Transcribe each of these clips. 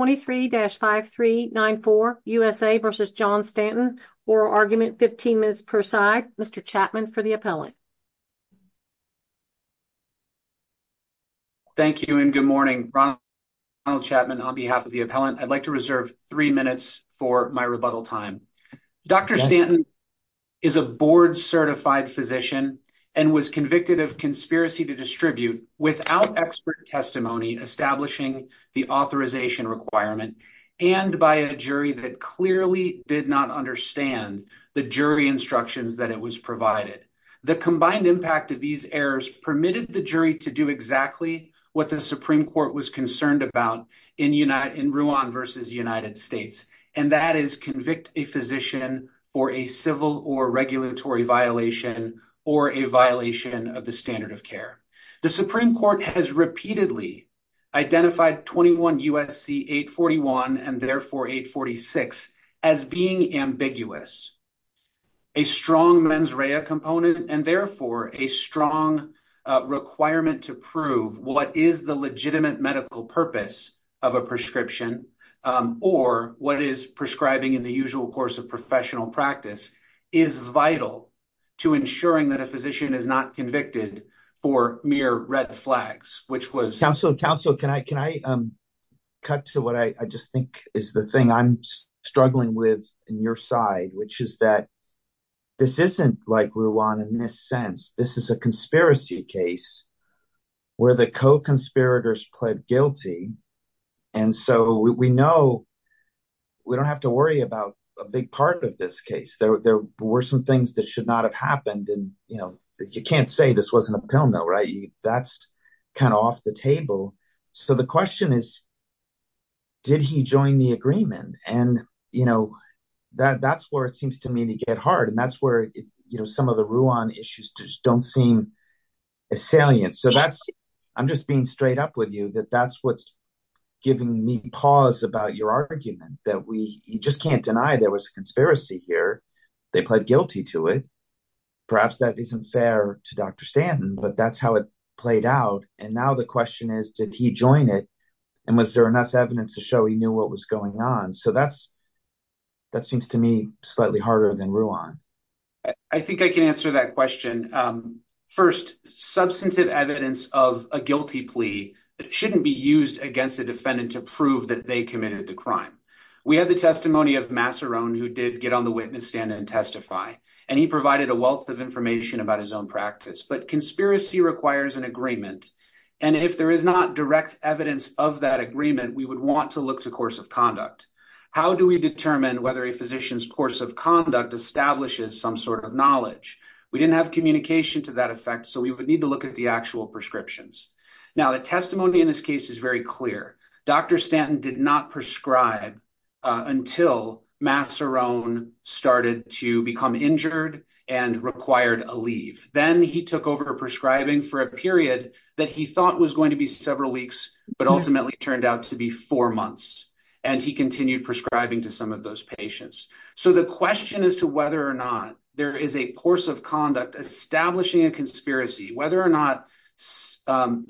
23-5394 USA v. John Stanton. Oral argument 15 minutes per side. Mr. Chapman for the appellant. Thank you and good morning. Ronald Chapman on behalf of the appellant. I'd like to reserve three minutes for my rebuttal time. Dr. Stanton is a board certified physician and was convicted of conspiracy to distribute without expert testimony establishing the authorization requirement and by a jury that clearly did not understand the jury instructions that it was provided. The combined impact of these errors permitted the jury to do exactly what the Supreme Court was concerned about in Rwanda v. United States and that is convict a physician for a civil or regulatory violation or a violation of the standard of care. The Supreme Court has repeatedly identified 21 U.S.C. 841 and therefore 846 as being ambiguous. A strong mens rea component and therefore a strong requirement to prove what is the legitimate medical purpose of a prescription or what is prescribing in the usual course of professional practice is vital to ensuring that a physician is not convicted for mere red flags. Councilor, can I cut to what I just think is the thing I'm struggling with in your side which is that this isn't like Rwanda in this sense. This is a conspiracy case where the co-conspirators pled guilty and so we know we don't have to worry about a big part of this case. There were some things that should not have happened and you can't say this wasn't a pill mill, right? That's kind of off the table. So the question is did he join the agreement and that's where it seems to me to get hard and that's where some of the Rwan issues just don't seem as salient. So that's I'm just being straight up with you that that's what's giving me pause about your argument that we you just can't deny there was a conspiracy here. They pled guilty to it. Perhaps that isn't fair to Dr. Stanton but that's how it played out and now the question is did he join it and was there enough evidence to show he knew what was going on? So that's that seems to me slightly harder than Rwan. I think I can answer that question. First substantive evidence of a guilty plea that shouldn't be used against a defendant to prove that they committed the crime. We had the testimony of Massarone who did get on the witness stand and testify and he provided a wealth of information about his own practice but conspiracy requires an agreement and if there is not direct evidence of that agreement we would want to look to course conduct. How do we determine whether a physician's course of conduct establishes some sort of knowledge? We didn't have communication to that effect so we would need to look at the actual prescriptions. Now the testimony in this case is very clear. Dr. Stanton did not prescribe until Massarone started to become injured and required a leave. Then he took over prescribing for a period that he thought was going to be several weeks but ultimately turned out to be four months and he continued prescribing to some of those patients. So the question as to whether or not there is a course of conduct establishing a conspiracy whether or not the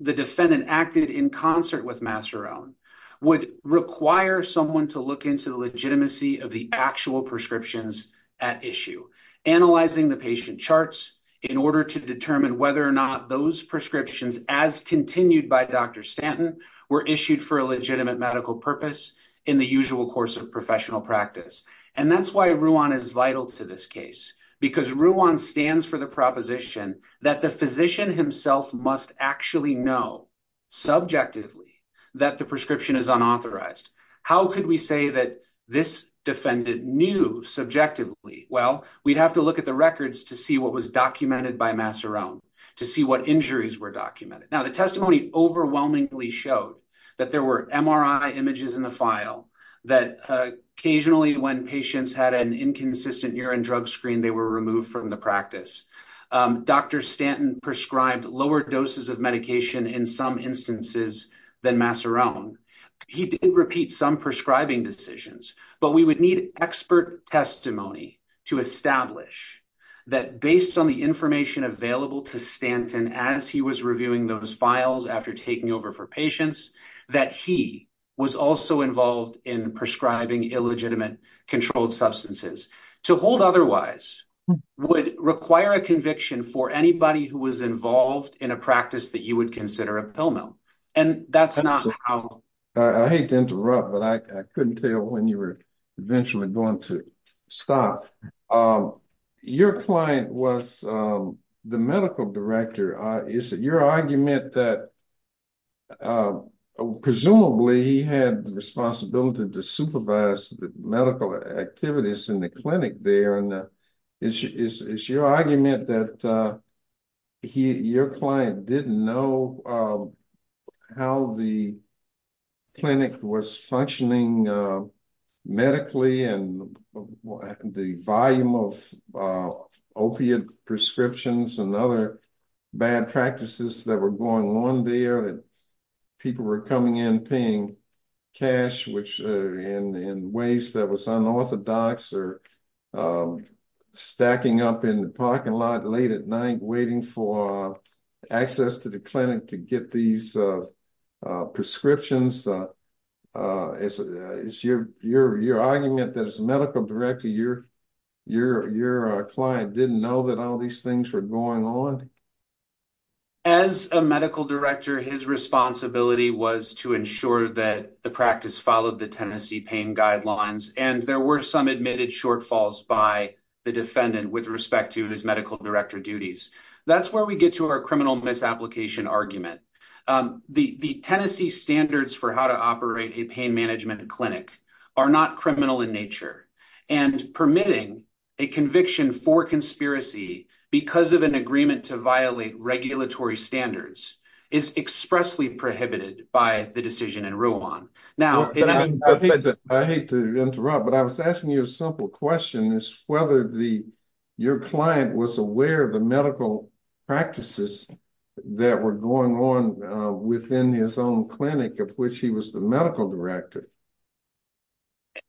defendant acted in concert with Massarone would require someone to look into the legitimacy of the actual prescriptions at issue. Analyzing the patient charts in order to determine whether or not those prescriptions as continued by Dr. Stanton were issued for a legitimate medical purpose in the usual course of professional practice and that's why Ruan is vital to this case because Ruan stands for the proposition that the physician himself must actually know subjectively that the prescription is unauthorized. How could we say that this defendant knew subjectively? Well we'd have to look at the records to see what was documented by Massarone to see what injuries were documented. Now testimony overwhelmingly showed that there were MRI images in the file that occasionally when patients had an inconsistent urine drug screen they were removed from the practice. Dr. Stanton prescribed lower doses of medication in some instances than Massarone. He did repeat some prescribing decisions but we would need expert testimony to establish that based on the information available to Stanton as he was reviewing those files after taking over for patients that he was also involved in prescribing illegitimate controlled substances. To hold otherwise would require a conviction for anybody who was involved in a practice that you would consider a pill mill and that's not how. I hate to interrupt but I couldn't tell when you were eventually going to stop. Your client was the medical director. Is it your argument that presumably he had the responsibility to supervise the medical activities in the clinic there and is your argument that your client didn't know how the clinic was functioning medically and the volume of opiate prescriptions and other bad practices that were going on there and people were coming in paying cash which in ways that was unorthodox or stacking up in the parking lot late at night waiting for access to the clinic to get these prescriptions? Is your argument that as a medical director your client didn't know that all these things were going on? As a medical director his responsibility was to ensure that the practice followed the Tennessee pain guidelines and there were some admitted shortfalls by the defendant with respect to his medical director duties. That's where we the Tennessee standards for how to operate a pain management clinic are not criminal in nature and permitting a conviction for conspiracy because of an agreement to violate regulatory standards is expressly prohibited by the decision in Rouen. Now I hate to interrupt but I was asking you a simple question is whether the your client was aware of the medical practices that were going on within his own clinic of which he was the medical director?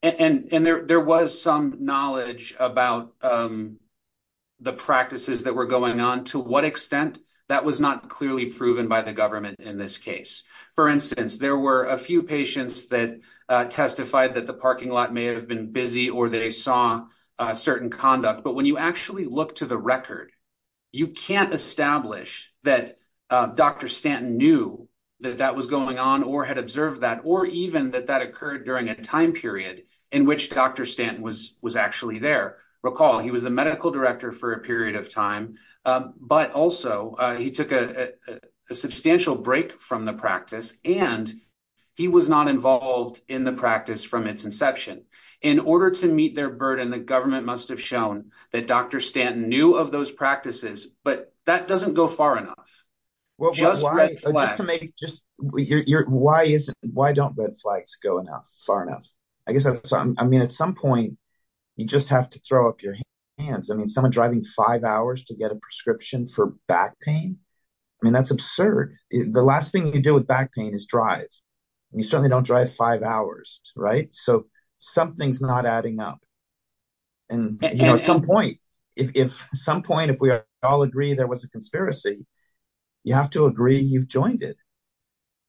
And there was some knowledge about the practices that were going on to what extent that was not clearly proven by the government in this case. For instance there were a few patients that testified that the parking lot may have been busy or they saw a certain conduct but when you actually look to the record you can't establish that Dr. Stanton knew that that was going on or had observed that or even that that occurred during a time period in which Dr. Stanton was was actually there. Recall he was the medical director for a period of time but also he took a substantial break from the practice and he was not involved in the practice from its inception. In order to meet their burden the government must have shown that Dr. Stanton knew of those practices but that doesn't go far enough. Just to make just your why isn't why don't red flags go enough far enough? I guess I mean at some point you just have to throw up your hands. I mean someone driving five hours to get a prescription for back pain I mean that's absurd. The last thing you do with back pain is drive and you certainly don't drive five hours right so something's not adding up. And you know at some point if some point if we all agree there was a conspiracy you have to agree you've joined it.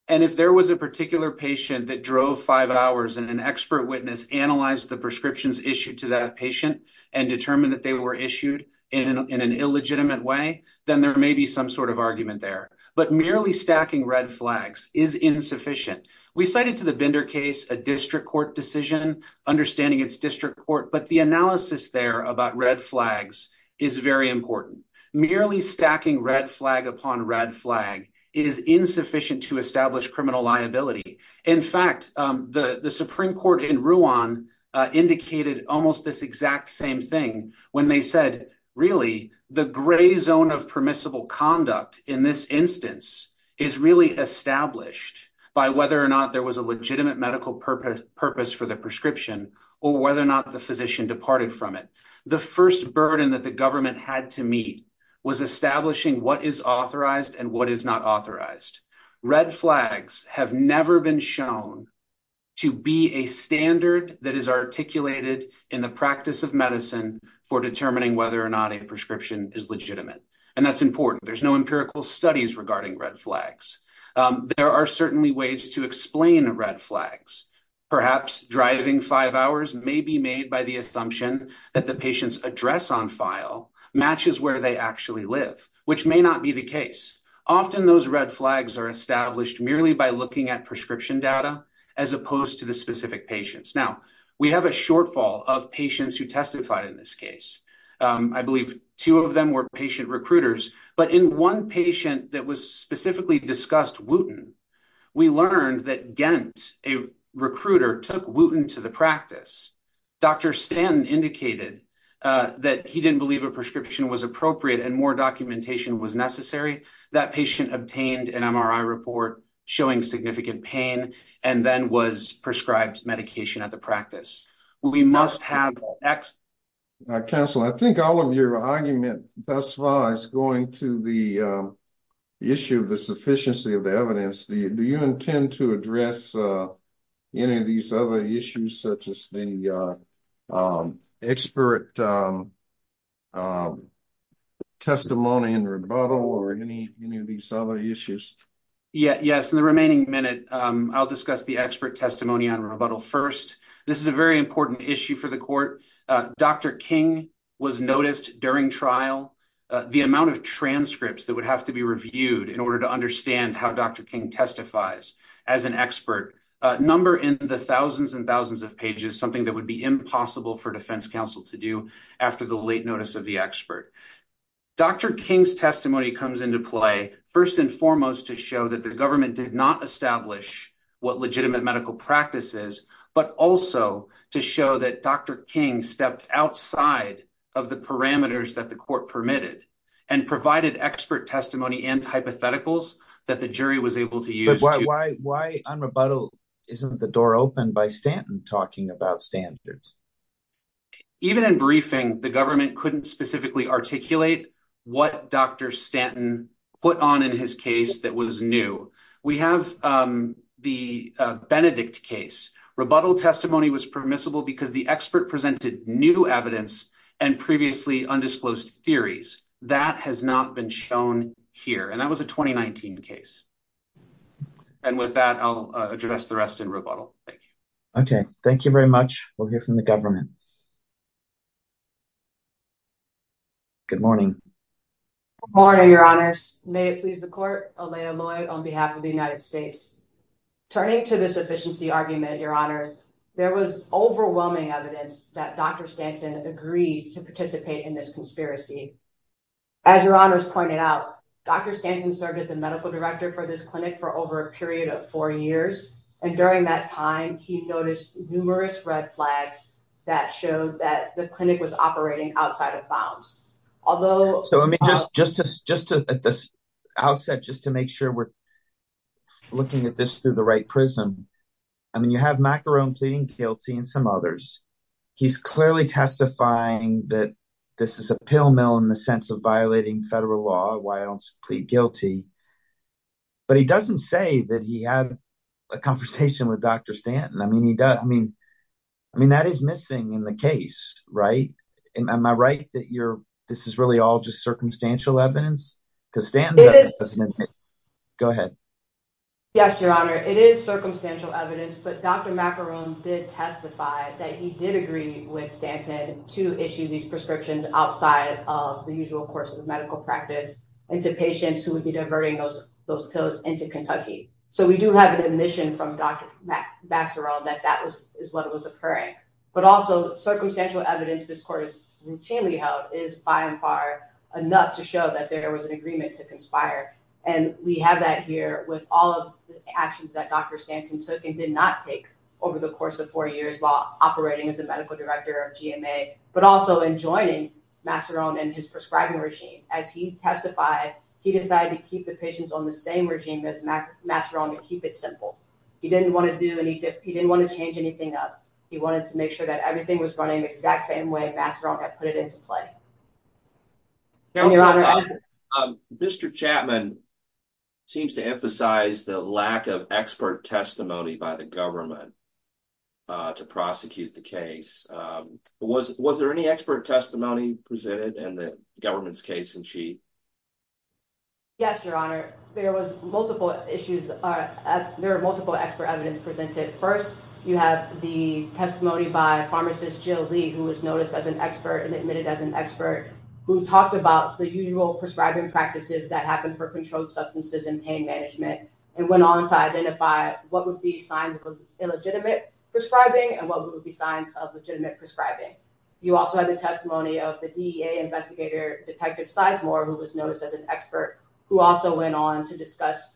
And if there was a particular patient that drove five hours and an expert witness analyzed the prescriptions issued to that patient and determined that they were issued in an illegitimate way then there may be some sort of argument there. But merely stacking red flags is insufficient. We cited to the Bender case a district court decision understanding its district court but the analysis there about red flags is very important. Merely stacking red flag upon red flag is insufficient to establish criminal liability. In fact the supreme court in Ruan indicated almost this exact same thing when they said really the gray zone of permissible conduct in this instance is really established by whether or not there was a or whether or not the physician departed from it. The first burden that the government had to meet was establishing what is authorized and what is not authorized. Red flags have never been shown to be a standard that is articulated in the practice of medicine for determining whether or not a prescription is legitimate. And that's important there's no empirical studies regarding red flags. There are certainly ways to explain red flags perhaps driving five hours may be made by the assumption that the patient's address on file matches where they actually live which may not be the case. Often those red flags are established merely by looking at prescription data as opposed to the specific patients. Now we have a shortfall of patients who testified in this I believe two of them were patient recruiters but in one patient that was specifically discussed Wooten we learned that Gent a recruiter took Wooten to the practice. Dr. Stanton indicated that he didn't believe a prescription was appropriate and more documentation was necessary. That patient obtained an MRI report showing significant pain and then was prescribed medication at the practice. We must have... Council I think all of your argument thus far is going to the issue of the sufficiency of the evidence. Do you intend to address any of these other issues such as the expert testimony in rebuttal or any any of these other issues? Yeah yes in the remaining minute I'll discuss the expert testimony on rebuttal first. This is a very important issue for the court. Dr. King was noticed during trial. The amount of transcripts that would have to be reviewed in order to understand how Dr. King testifies as an expert number in the thousands and thousands of pages something that would be impossible for defense council to do after the late notice of the expert. Dr. King's testimony comes into play first and foremost to show that the government did not establish what legitimate medical practice is but also to show that Dr. King stepped outside of the parameters that the court permitted and provided expert testimony and hypotheticals that the jury was able to use. Why on rebuttal isn't the door open by Stanton talking about standards? Even in briefing the government couldn't specifically articulate what Dr. Stanton put on in his case that was new. We have the Benedict case. Rebuttal testimony was permissible because the expert presented new evidence and previously undisclosed theories. That has not been shown here and that was a 2019 case and with that I'll address the rest in rebuttal. Thank you. Okay thank you very much. We'll hear from the government. Good morning. Good morning your honors. May it please the court. Alayah Lloyd on behalf of the United States. Turning to this efficiency argument your honors there was overwhelming evidence that Dr. Stanton agreed to participate in this conspiracy. As your honors pointed out Dr. Stanton served as the medical director for this clinic for over a period of four years and during that time he noticed numerous red flags that showed that the clinic was operating outside of bounds. Although so I mean just just to just to at this outset just to make sure we're looking at this through the right prism. I mean you have Macarone pleading guilty and some others. He's clearly testifying that this is a pill mill in the sense of violating federal law. Why don't plead guilty? But he doesn't say that he had a conversation with Dr. Stanton. I mean he I mean I mean that is missing in the case right and am I right that you're this is really all just circumstantial evidence because Stanton doesn't go ahead. Yes your honor it is circumstantial evidence but Dr. Macarone did testify that he did agree with Stanton to issue these prescriptions outside of the usual course of medical practice into patients who would be diverting those those into Kentucky. So we do have an admission from Dr. Macarone that that was is what was occurring but also circumstantial evidence this court is routinely held is by and far enough to show that there was an agreement to conspire and we have that here with all of the actions that Dr. Stanton took and did not take over the course of four years while operating as the medical director of GMA but also in joining Macarone and his prescribing regime. As he testified he decided to keep the patients on the same regime as Macarone to keep it simple. He didn't want to do any he didn't want to change anything up he wanted to make sure that everything was running the exact same way Macarone had put it into play. Mr. Chapman seems to emphasize the lack of expert testimony by the government uh to prosecute the case. Was was there any expert testimony presented in the government's case in chief? Yes your honor there was multiple issues uh there are multiple expert evidence presented. First you have the testimony by pharmacist Jill Lee who was noticed as an expert and admitted as an expert who talked about the usual prescribing practices that happen for controlled substances and pain management and went on to identify what would be signs of illegitimate prescribing and what would be signs of legitimate prescribing. You also have the testimony of the DEA investigator detective Sizemore who was noticed as an expert who also went on to discuss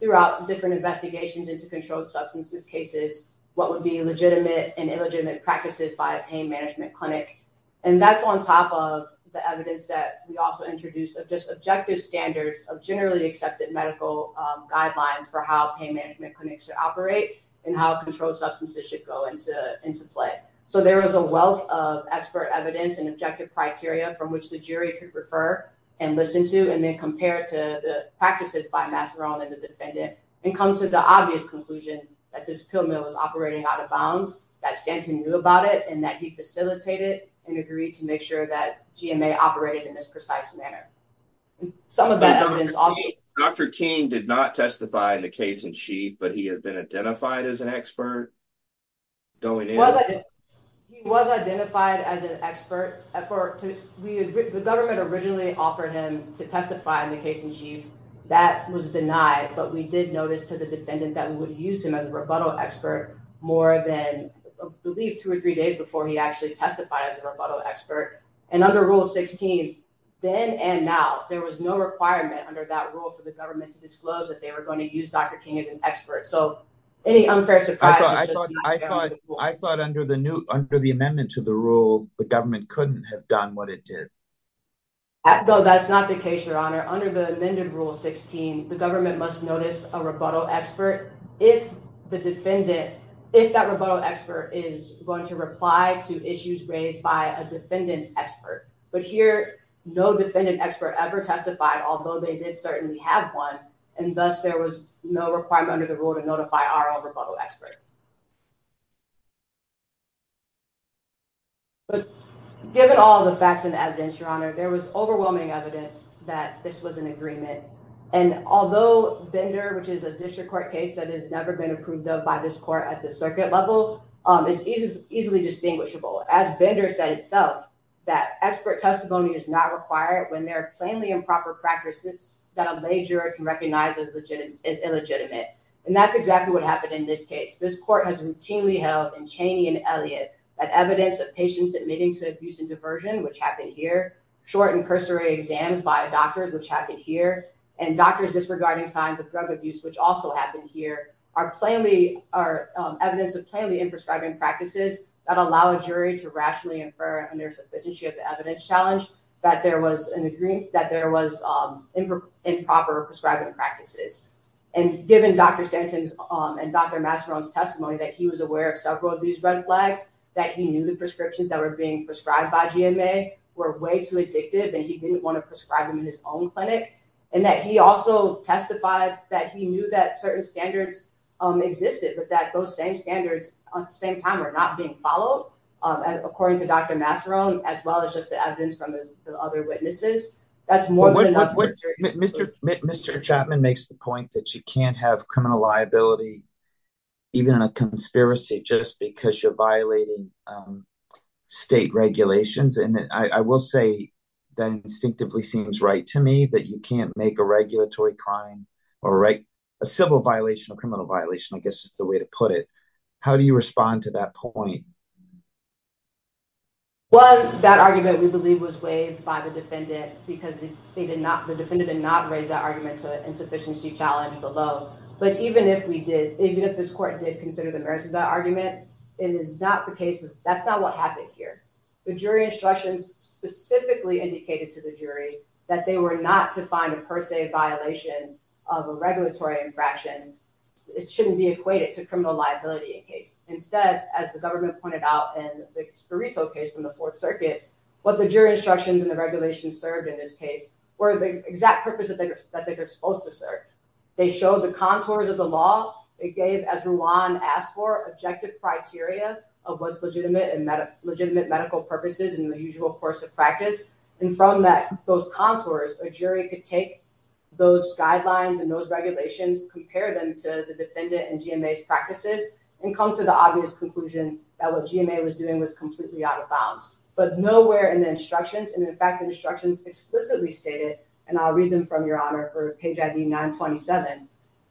throughout different investigations into controlled substances cases what would be legitimate and illegitimate practices by a pain management clinic and that's on top of the evidence that we also introduced of just objective standards of generally accepted medical guidelines for how pain management clinics should operate and how controlled substances should go into into play. So there is a wealth of expert evidence and objective criteria from which the jury could refer and listen to and then compare it to the practices by Macarone and the defendant and come to the obvious conclusion that this pill mill was operating out of bounds that Stanton knew about it and that he facilitated and agreed to make sure that GMA operated in this precise manner. Some of that evidence also Dr. King did not testify in the case and she that was denied but we did notice to the defendant that we would use him as a rebuttal expert more than I believe two or three days before he actually testified as a rebuttal expert and under rule 16 then and now there was no requirement under that rule for the government to disclose that they were going to use Dr. King as an expert so any unfair surprise I thought I thought I thought under the new under the amendment to the rule the government couldn't have done what it did. No that's not the case your honor under the amended rule 16 the government must notice a rebuttal expert if the defendant if that rebuttal expert is going to reply to issues raised by a defendant's expert but here no defendant expert ever testified although they did certainly have one and thus there was no requirement under the rule to notify our own rebuttal expert. But given all the facts and evidence your honor there was overwhelming evidence that this was an agreement and although Bender which is a district court case that has never been approved of by this court at the circuit level is easily distinguishable as Bender said itself that expert testimony is not when there are plainly improper practices that a major can recognize as legitimate is illegitimate and that's exactly what happened in this case this court has routinely held in Chaney and Elliot that evidence of patients admitting to abuse and diversion which happened here short and cursory exams by doctors which happened here and doctors disregarding signs of drug abuse which also happened here are plainly are evidence of plainly in prescribing practices that allow a that there was improper prescribing practices and given Dr. Stanton's and Dr. Masseron's testimony that he was aware of several of these red flags that he knew the prescriptions that were being prescribed by GMA were way too addictive and he didn't want to prescribe them in his own clinic and that he also testified that he knew that certain standards existed but that those same standards at the same time are not being followed according to Dr. Masseron as well as just the other witnesses that's more than what Mr. Chapman makes the point that you can't have criminal liability even in a conspiracy just because you're violating state regulations and I will say that instinctively seems right to me that you can't make a regulatory crime or write a civil violation of criminal violation I guess is the way to put it do you respond to that point well that argument we believe was waived by the defendant because they did not the defendant did not raise that argument to an insufficiency challenge below but even if we did even if this court did consider the merits of that argument it is not the case that's not what happened here the jury instructions specifically indicated to the jury that they were not to find a per se violation of a regulatory infraction it shouldn't be equated to criminal liability in case instead as the government pointed out in the Scarito case from the fourth circuit what the jury instructions and the regulations served in this case were the exact purpose that they were that they were supposed to serve they showed the contours of the law it gave as Ruan asked for objective criteria of what's legitimate and met a legitimate medical purposes in the usual course of practice and from that those contours a jury could take those guidelines and those regulations compare them to the defendant and gma's practices and come to the obvious conclusion that what gma was doing was completely out of bounds but nowhere in the instructions and in fact the instructions explicitly stated and i'll read them from your honor for page id 927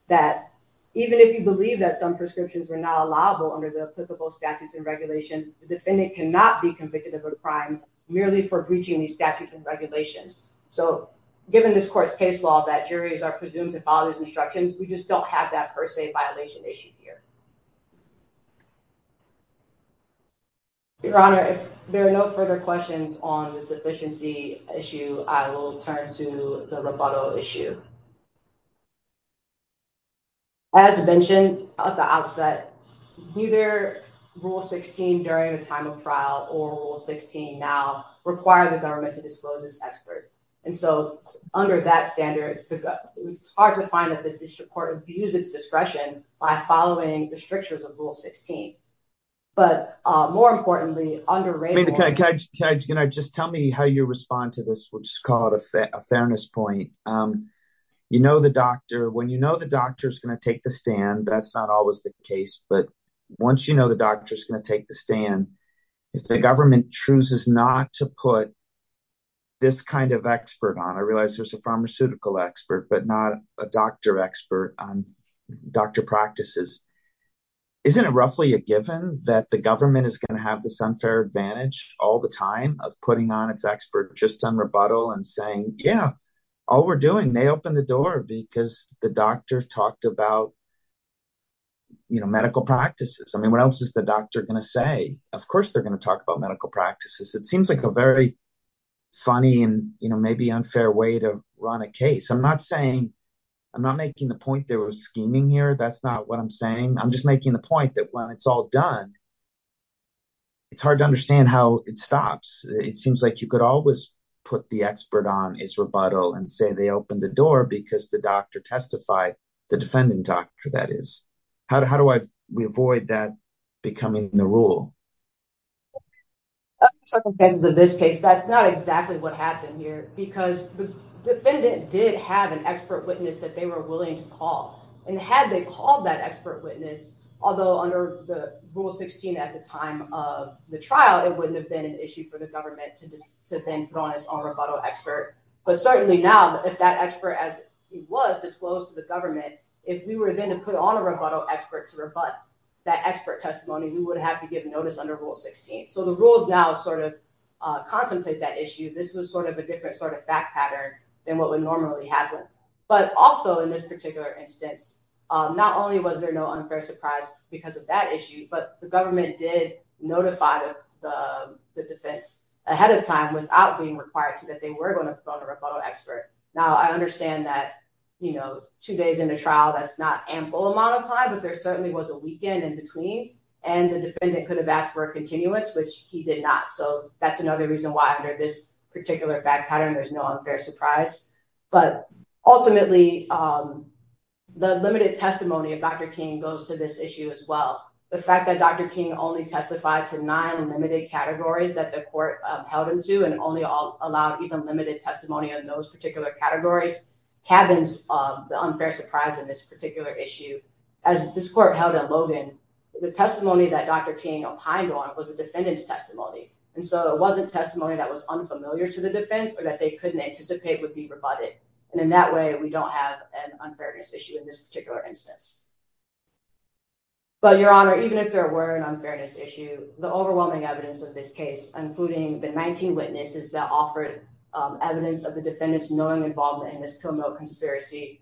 that even if you believe that some prescriptions were not allowable under the applicable statutes and regulations the defendant cannot be convicted of a crime merely for breaching these statutes and regulations so given this court's case law that juries are presumed to follow these instructions we just don't have that per se violation issue here your honor if there are no further questions on the sufficiency issue i will turn to the rebuttal issue as mentioned at the outset neither rule 16 during the time of trial or rule 16 now require the government to disclose this expert and so under that standard it's hard to find that the district court abuses discretion by following the strictures of rule 16 but uh more importantly under rate okay okay you know just tell me how you respond to this which is called a fairness point um you know the doctor when you know the doctor's going to take the stand that's not always the case but once you know the doctor's going to take the stand if the government chooses not to put this kind of expert on i realize there's a pharmaceutical expert but not a doctor expert on doctor practices isn't it roughly a given that the government is going to have this unfair advantage all the time of putting on its expert just on rebuttal and saying yeah all we're doing they opened the door because the doctor talked about you know medical practices i mean what else is the doctor going to say of course they're going to talk about medical practices it seems like a very funny and you know maybe unfair way to run a case i'm not saying i'm not making the point there was scheming here that's not what i'm saying i'm just making the point that when it's all done it's hard to understand how it stops it seems like you could always put the expert on his rebuttal and say they opened the door because the doctor testified the defendant doctor that is how do how do i we avoid that becoming the rule circumstances of this case that's not exactly what happened here because the defendant did have an expert witness that they were willing to call and had they called that expert witness although under the rule 16 at the time of the trial it wouldn't have been an issue for the government to just to then put on its own rebuttal expert but certainly now if that expert as he was disclosed to the government if we were then to put on a rebuttal expert to rebut that expert testimony we would have to give notice under rule 16 so the rules now sort of uh contemplate that issue this was sort of a different sort of fact than what would normally happen but also in this particular instance not only was there no unfair surprise because of that issue but the government did notify the the defense ahead of time without being required to that they were going to put on a rebuttal expert now i understand that you know two days in a trial that's not ample amount of time but there certainly was a weekend in between and the defendant could have asked for a continuance which he did not so that's another reason why under this particular back pattern there's no unfair surprise but ultimately um the limited testimony of dr king goes to this issue as well the fact that dr king only testified to nine limited categories that the court held into and only allowed even limited testimony on those particular categories cabins um the unfair surprise in this particular issue as this court held in logan the testimony that dr king opined on was a defendant's testimony and so it wasn't testimony that was unfamiliar to the defense or that they couldn't anticipate would be rebutted and in that way we don't have an unfairness issue in this particular instance but your honor even if there were an unfairness issue the overwhelming evidence of this case including the 19 witnesses that offered evidence of the defendant's knowing involvement in this pill mill conspiracy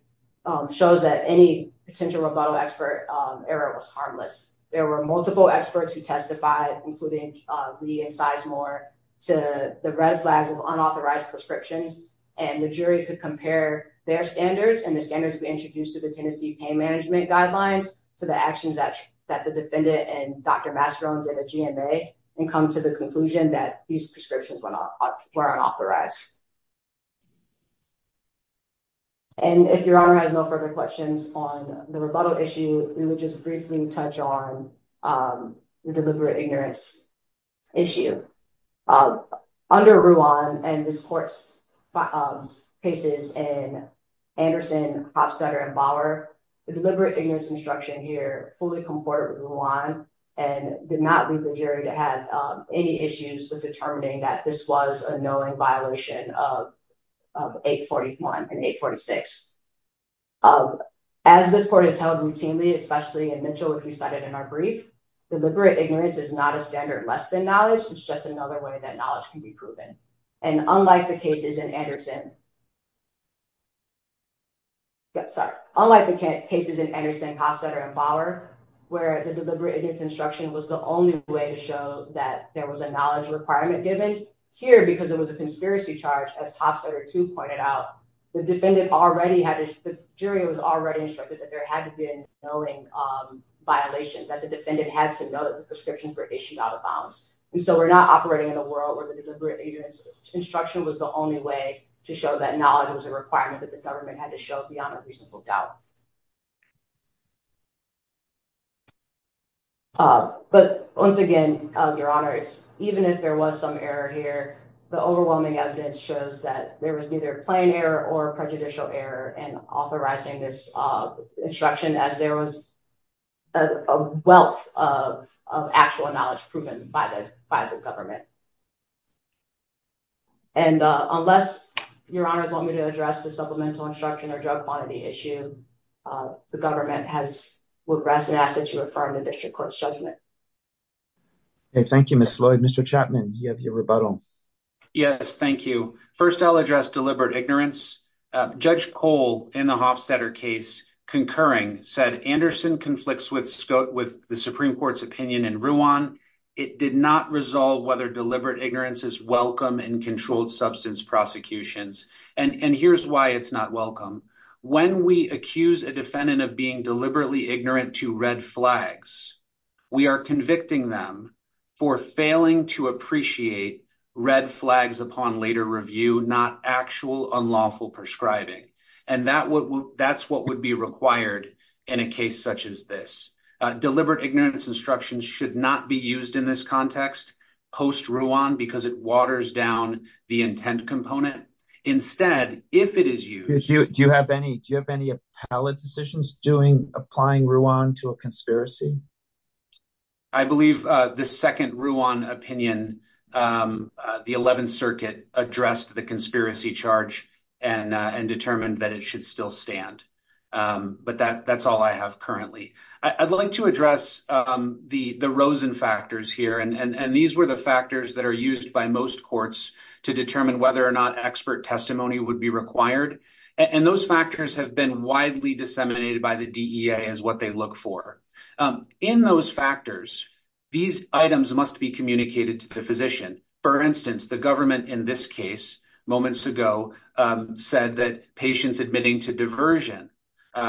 shows that any potential rebuttal expert error was harmless there were multiple experts who testified including lee and size more to the red flags of unauthorized prescriptions and the jury could compare their standards and the standards we introduced to the tennessee pain management guidelines to the actions that that the defendant and dr master owned in the gma and come to the conclusion that these prescriptions went off were unauthorized and if your honor has no further questions on the rebuttal issue we would just briefly touch on the deliberate ignorance issue under ruan and this court's cases in anderson hopstetter and bauer the deliberate ignorance instruction here fully comported with the law and did not leave the jury to have any issues with determining that this was a knowing violation of of 841 and 846 um as this court has held routinely especially in mitchell which we cited in our brief deliberate ignorance is not a standard less than knowledge it's just another way that knowledge can be proven and unlike the cases in anderson yeah sorry unlike the cases in anderson hopstetter and bauer where the deliberate ignorance instruction was the only way to show that there was a knowledge requirement given here because it was a conspiracy charge as hopstetter to point it out the defendant already had the jury was already instructed that there had to be a knowing um violation that the defendant had to know that the prescriptions were issued out of bounds and so we're not operating in the world where the deliberate ignorance instruction was the only way to show that knowledge was a requirement that the government had to show uh but once again uh your honors even if there was some error here the overwhelming evidence shows that there was neither plain error or prejudicial error in authorizing this uh instruction as there was a wealth of of actual knowledge proven by the by the government and uh unless your honors want me to address the supplemental instruction or drug quantity issue the government has regressed and asked that you refer to the district court's judgment okay thank you miss lloyd mr chapman you have your rebuttal yes thank you first i'll address deliberate ignorance judge cole in the hofstetter case concurring said anderson conflicts with scott with the supreme court's opinion in ruan it did not resolve whether deliberate ignorance is welcome in controlled substance prosecutions and and here's why it's not welcome when we accuse a defendant of being deliberately ignorant to red flags we are convicting them for failing to appreciate red flags upon later review not actual unlawful prescribing and that would that's what would be required in a case such as this deliberate ignorance instructions should not be used in this context post-ruan because it waters down the intent component instead if it is used do you have any do you have any appellate decisions doing applying ruan to a conspiracy i believe uh the second ruan opinion um the 11th circuit addressed the conspiracy charge and uh and determined that it should still stand um but that that's all i have currently i'd like to address um the the rosen factors here and and these were the factors that are used by most courts to determine whether or not expert testimony would be required and those factors have been widely disseminated by the dea as what they look for in those factors these items must be to the physician for instance the government in this case moments ago said that patients admitting to diversion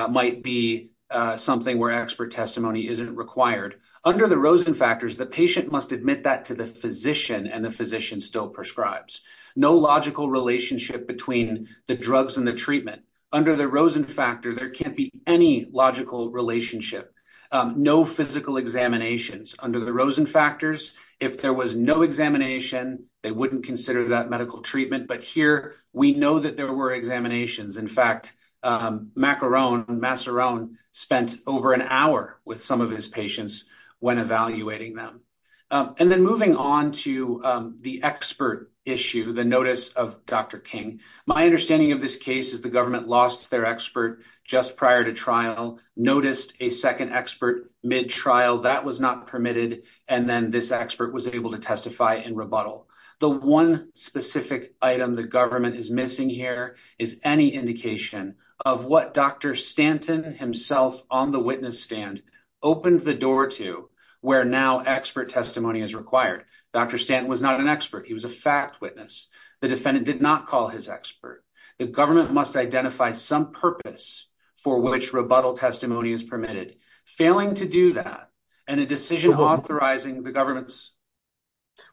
might be something where expert testimony isn't required under the rosen factors the patient must admit that to the physician and the physician still prescribes no logical relationship between the drugs and the treatment under the rosen factor there can't be any logical relationship um no physical examinations under the rosen factors if there was no examination they wouldn't consider that medical treatment but here we know that there were examinations in fact macaroon masseron spent over an hour with some of his patients when evaluating them and then moving on to the expert issue the notice of dr king my understanding of this case is the government lost their expert just prior to trial noticed a second expert mid trial that was not permitted and then this expert was able to testify in rebuttal the one specific item the government is missing here is any indication of what dr stanton himself on the witness stand opened the door to where now expert testimony is required dr stanton was not an expert he was a fact witness the defendant did not call his expert the government must identify some purpose for which rebuttal testimony is permitted failing to do that and a decision authorizing the government's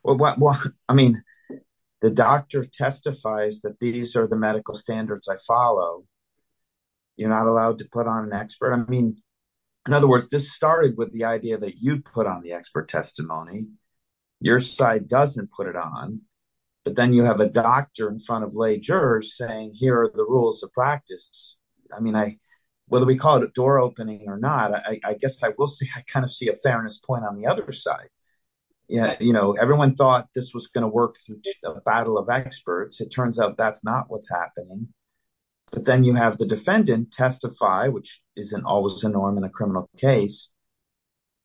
well what well i mean the doctor testifies that these are the medical standards i follow you're not allowed to put on an expert i mean in other words this started with the idea that you put on the expert testimony your side doesn't put it on but then you have a doctor in front of lay jurors saying here are the rules of practice i mean i whether we call it a door opening or not i i guess i will say i kind of see a fairness point on the other side yeah you know everyone thought this was going to work through a battle of experts it turns out that's not what's happening but then you have the defendant testify which isn't always a norm in a criminal case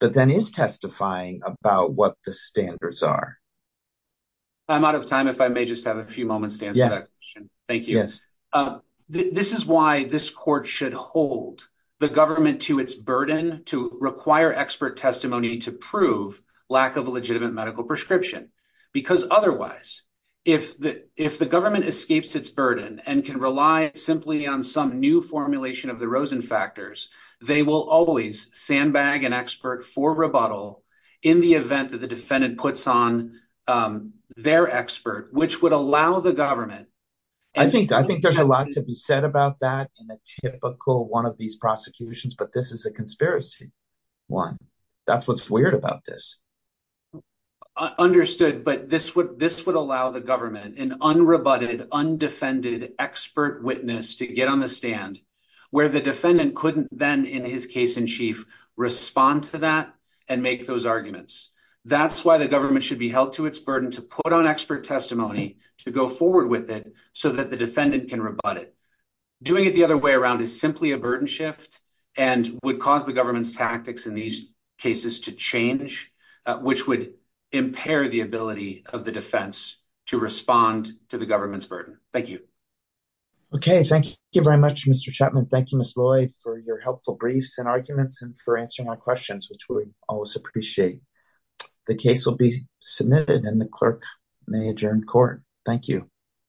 but then is testifying about what the standards are i'm out of time if i may just have a few moments to answer that question thank you yes this is why this court should hold the government to its burden to require expert testimony to prove lack of a legitimate medical prescription because otherwise if the if the government escapes its burden and can rely simply on some new formulation of the rosin factors they will always sandbag an expert for rebuttal in the event that the defendant puts on their expert which would allow the government i think i think there's a lot to be said about that in a typical one of these prosecutions but this is a conspiracy one that's what's weird about this understood but this would this would allow the government an undefended expert witness to get on the stand where the defendant couldn't then in his case in chief respond to that and make those arguments that's why the government should be held to its burden to put on expert testimony to go forward with it so that the defendant can rebut it doing it the other way around is simply a burden shift and would cause the government's tactics in these cases to change which would impair the ability of the defense to respond to the government's burden thank you okay thank you very much mr chapman thank you miss loy for your helpful briefs and arguments and for answering our questions which we always appreciate the case will be submitted and the clerk may adjourn court thank you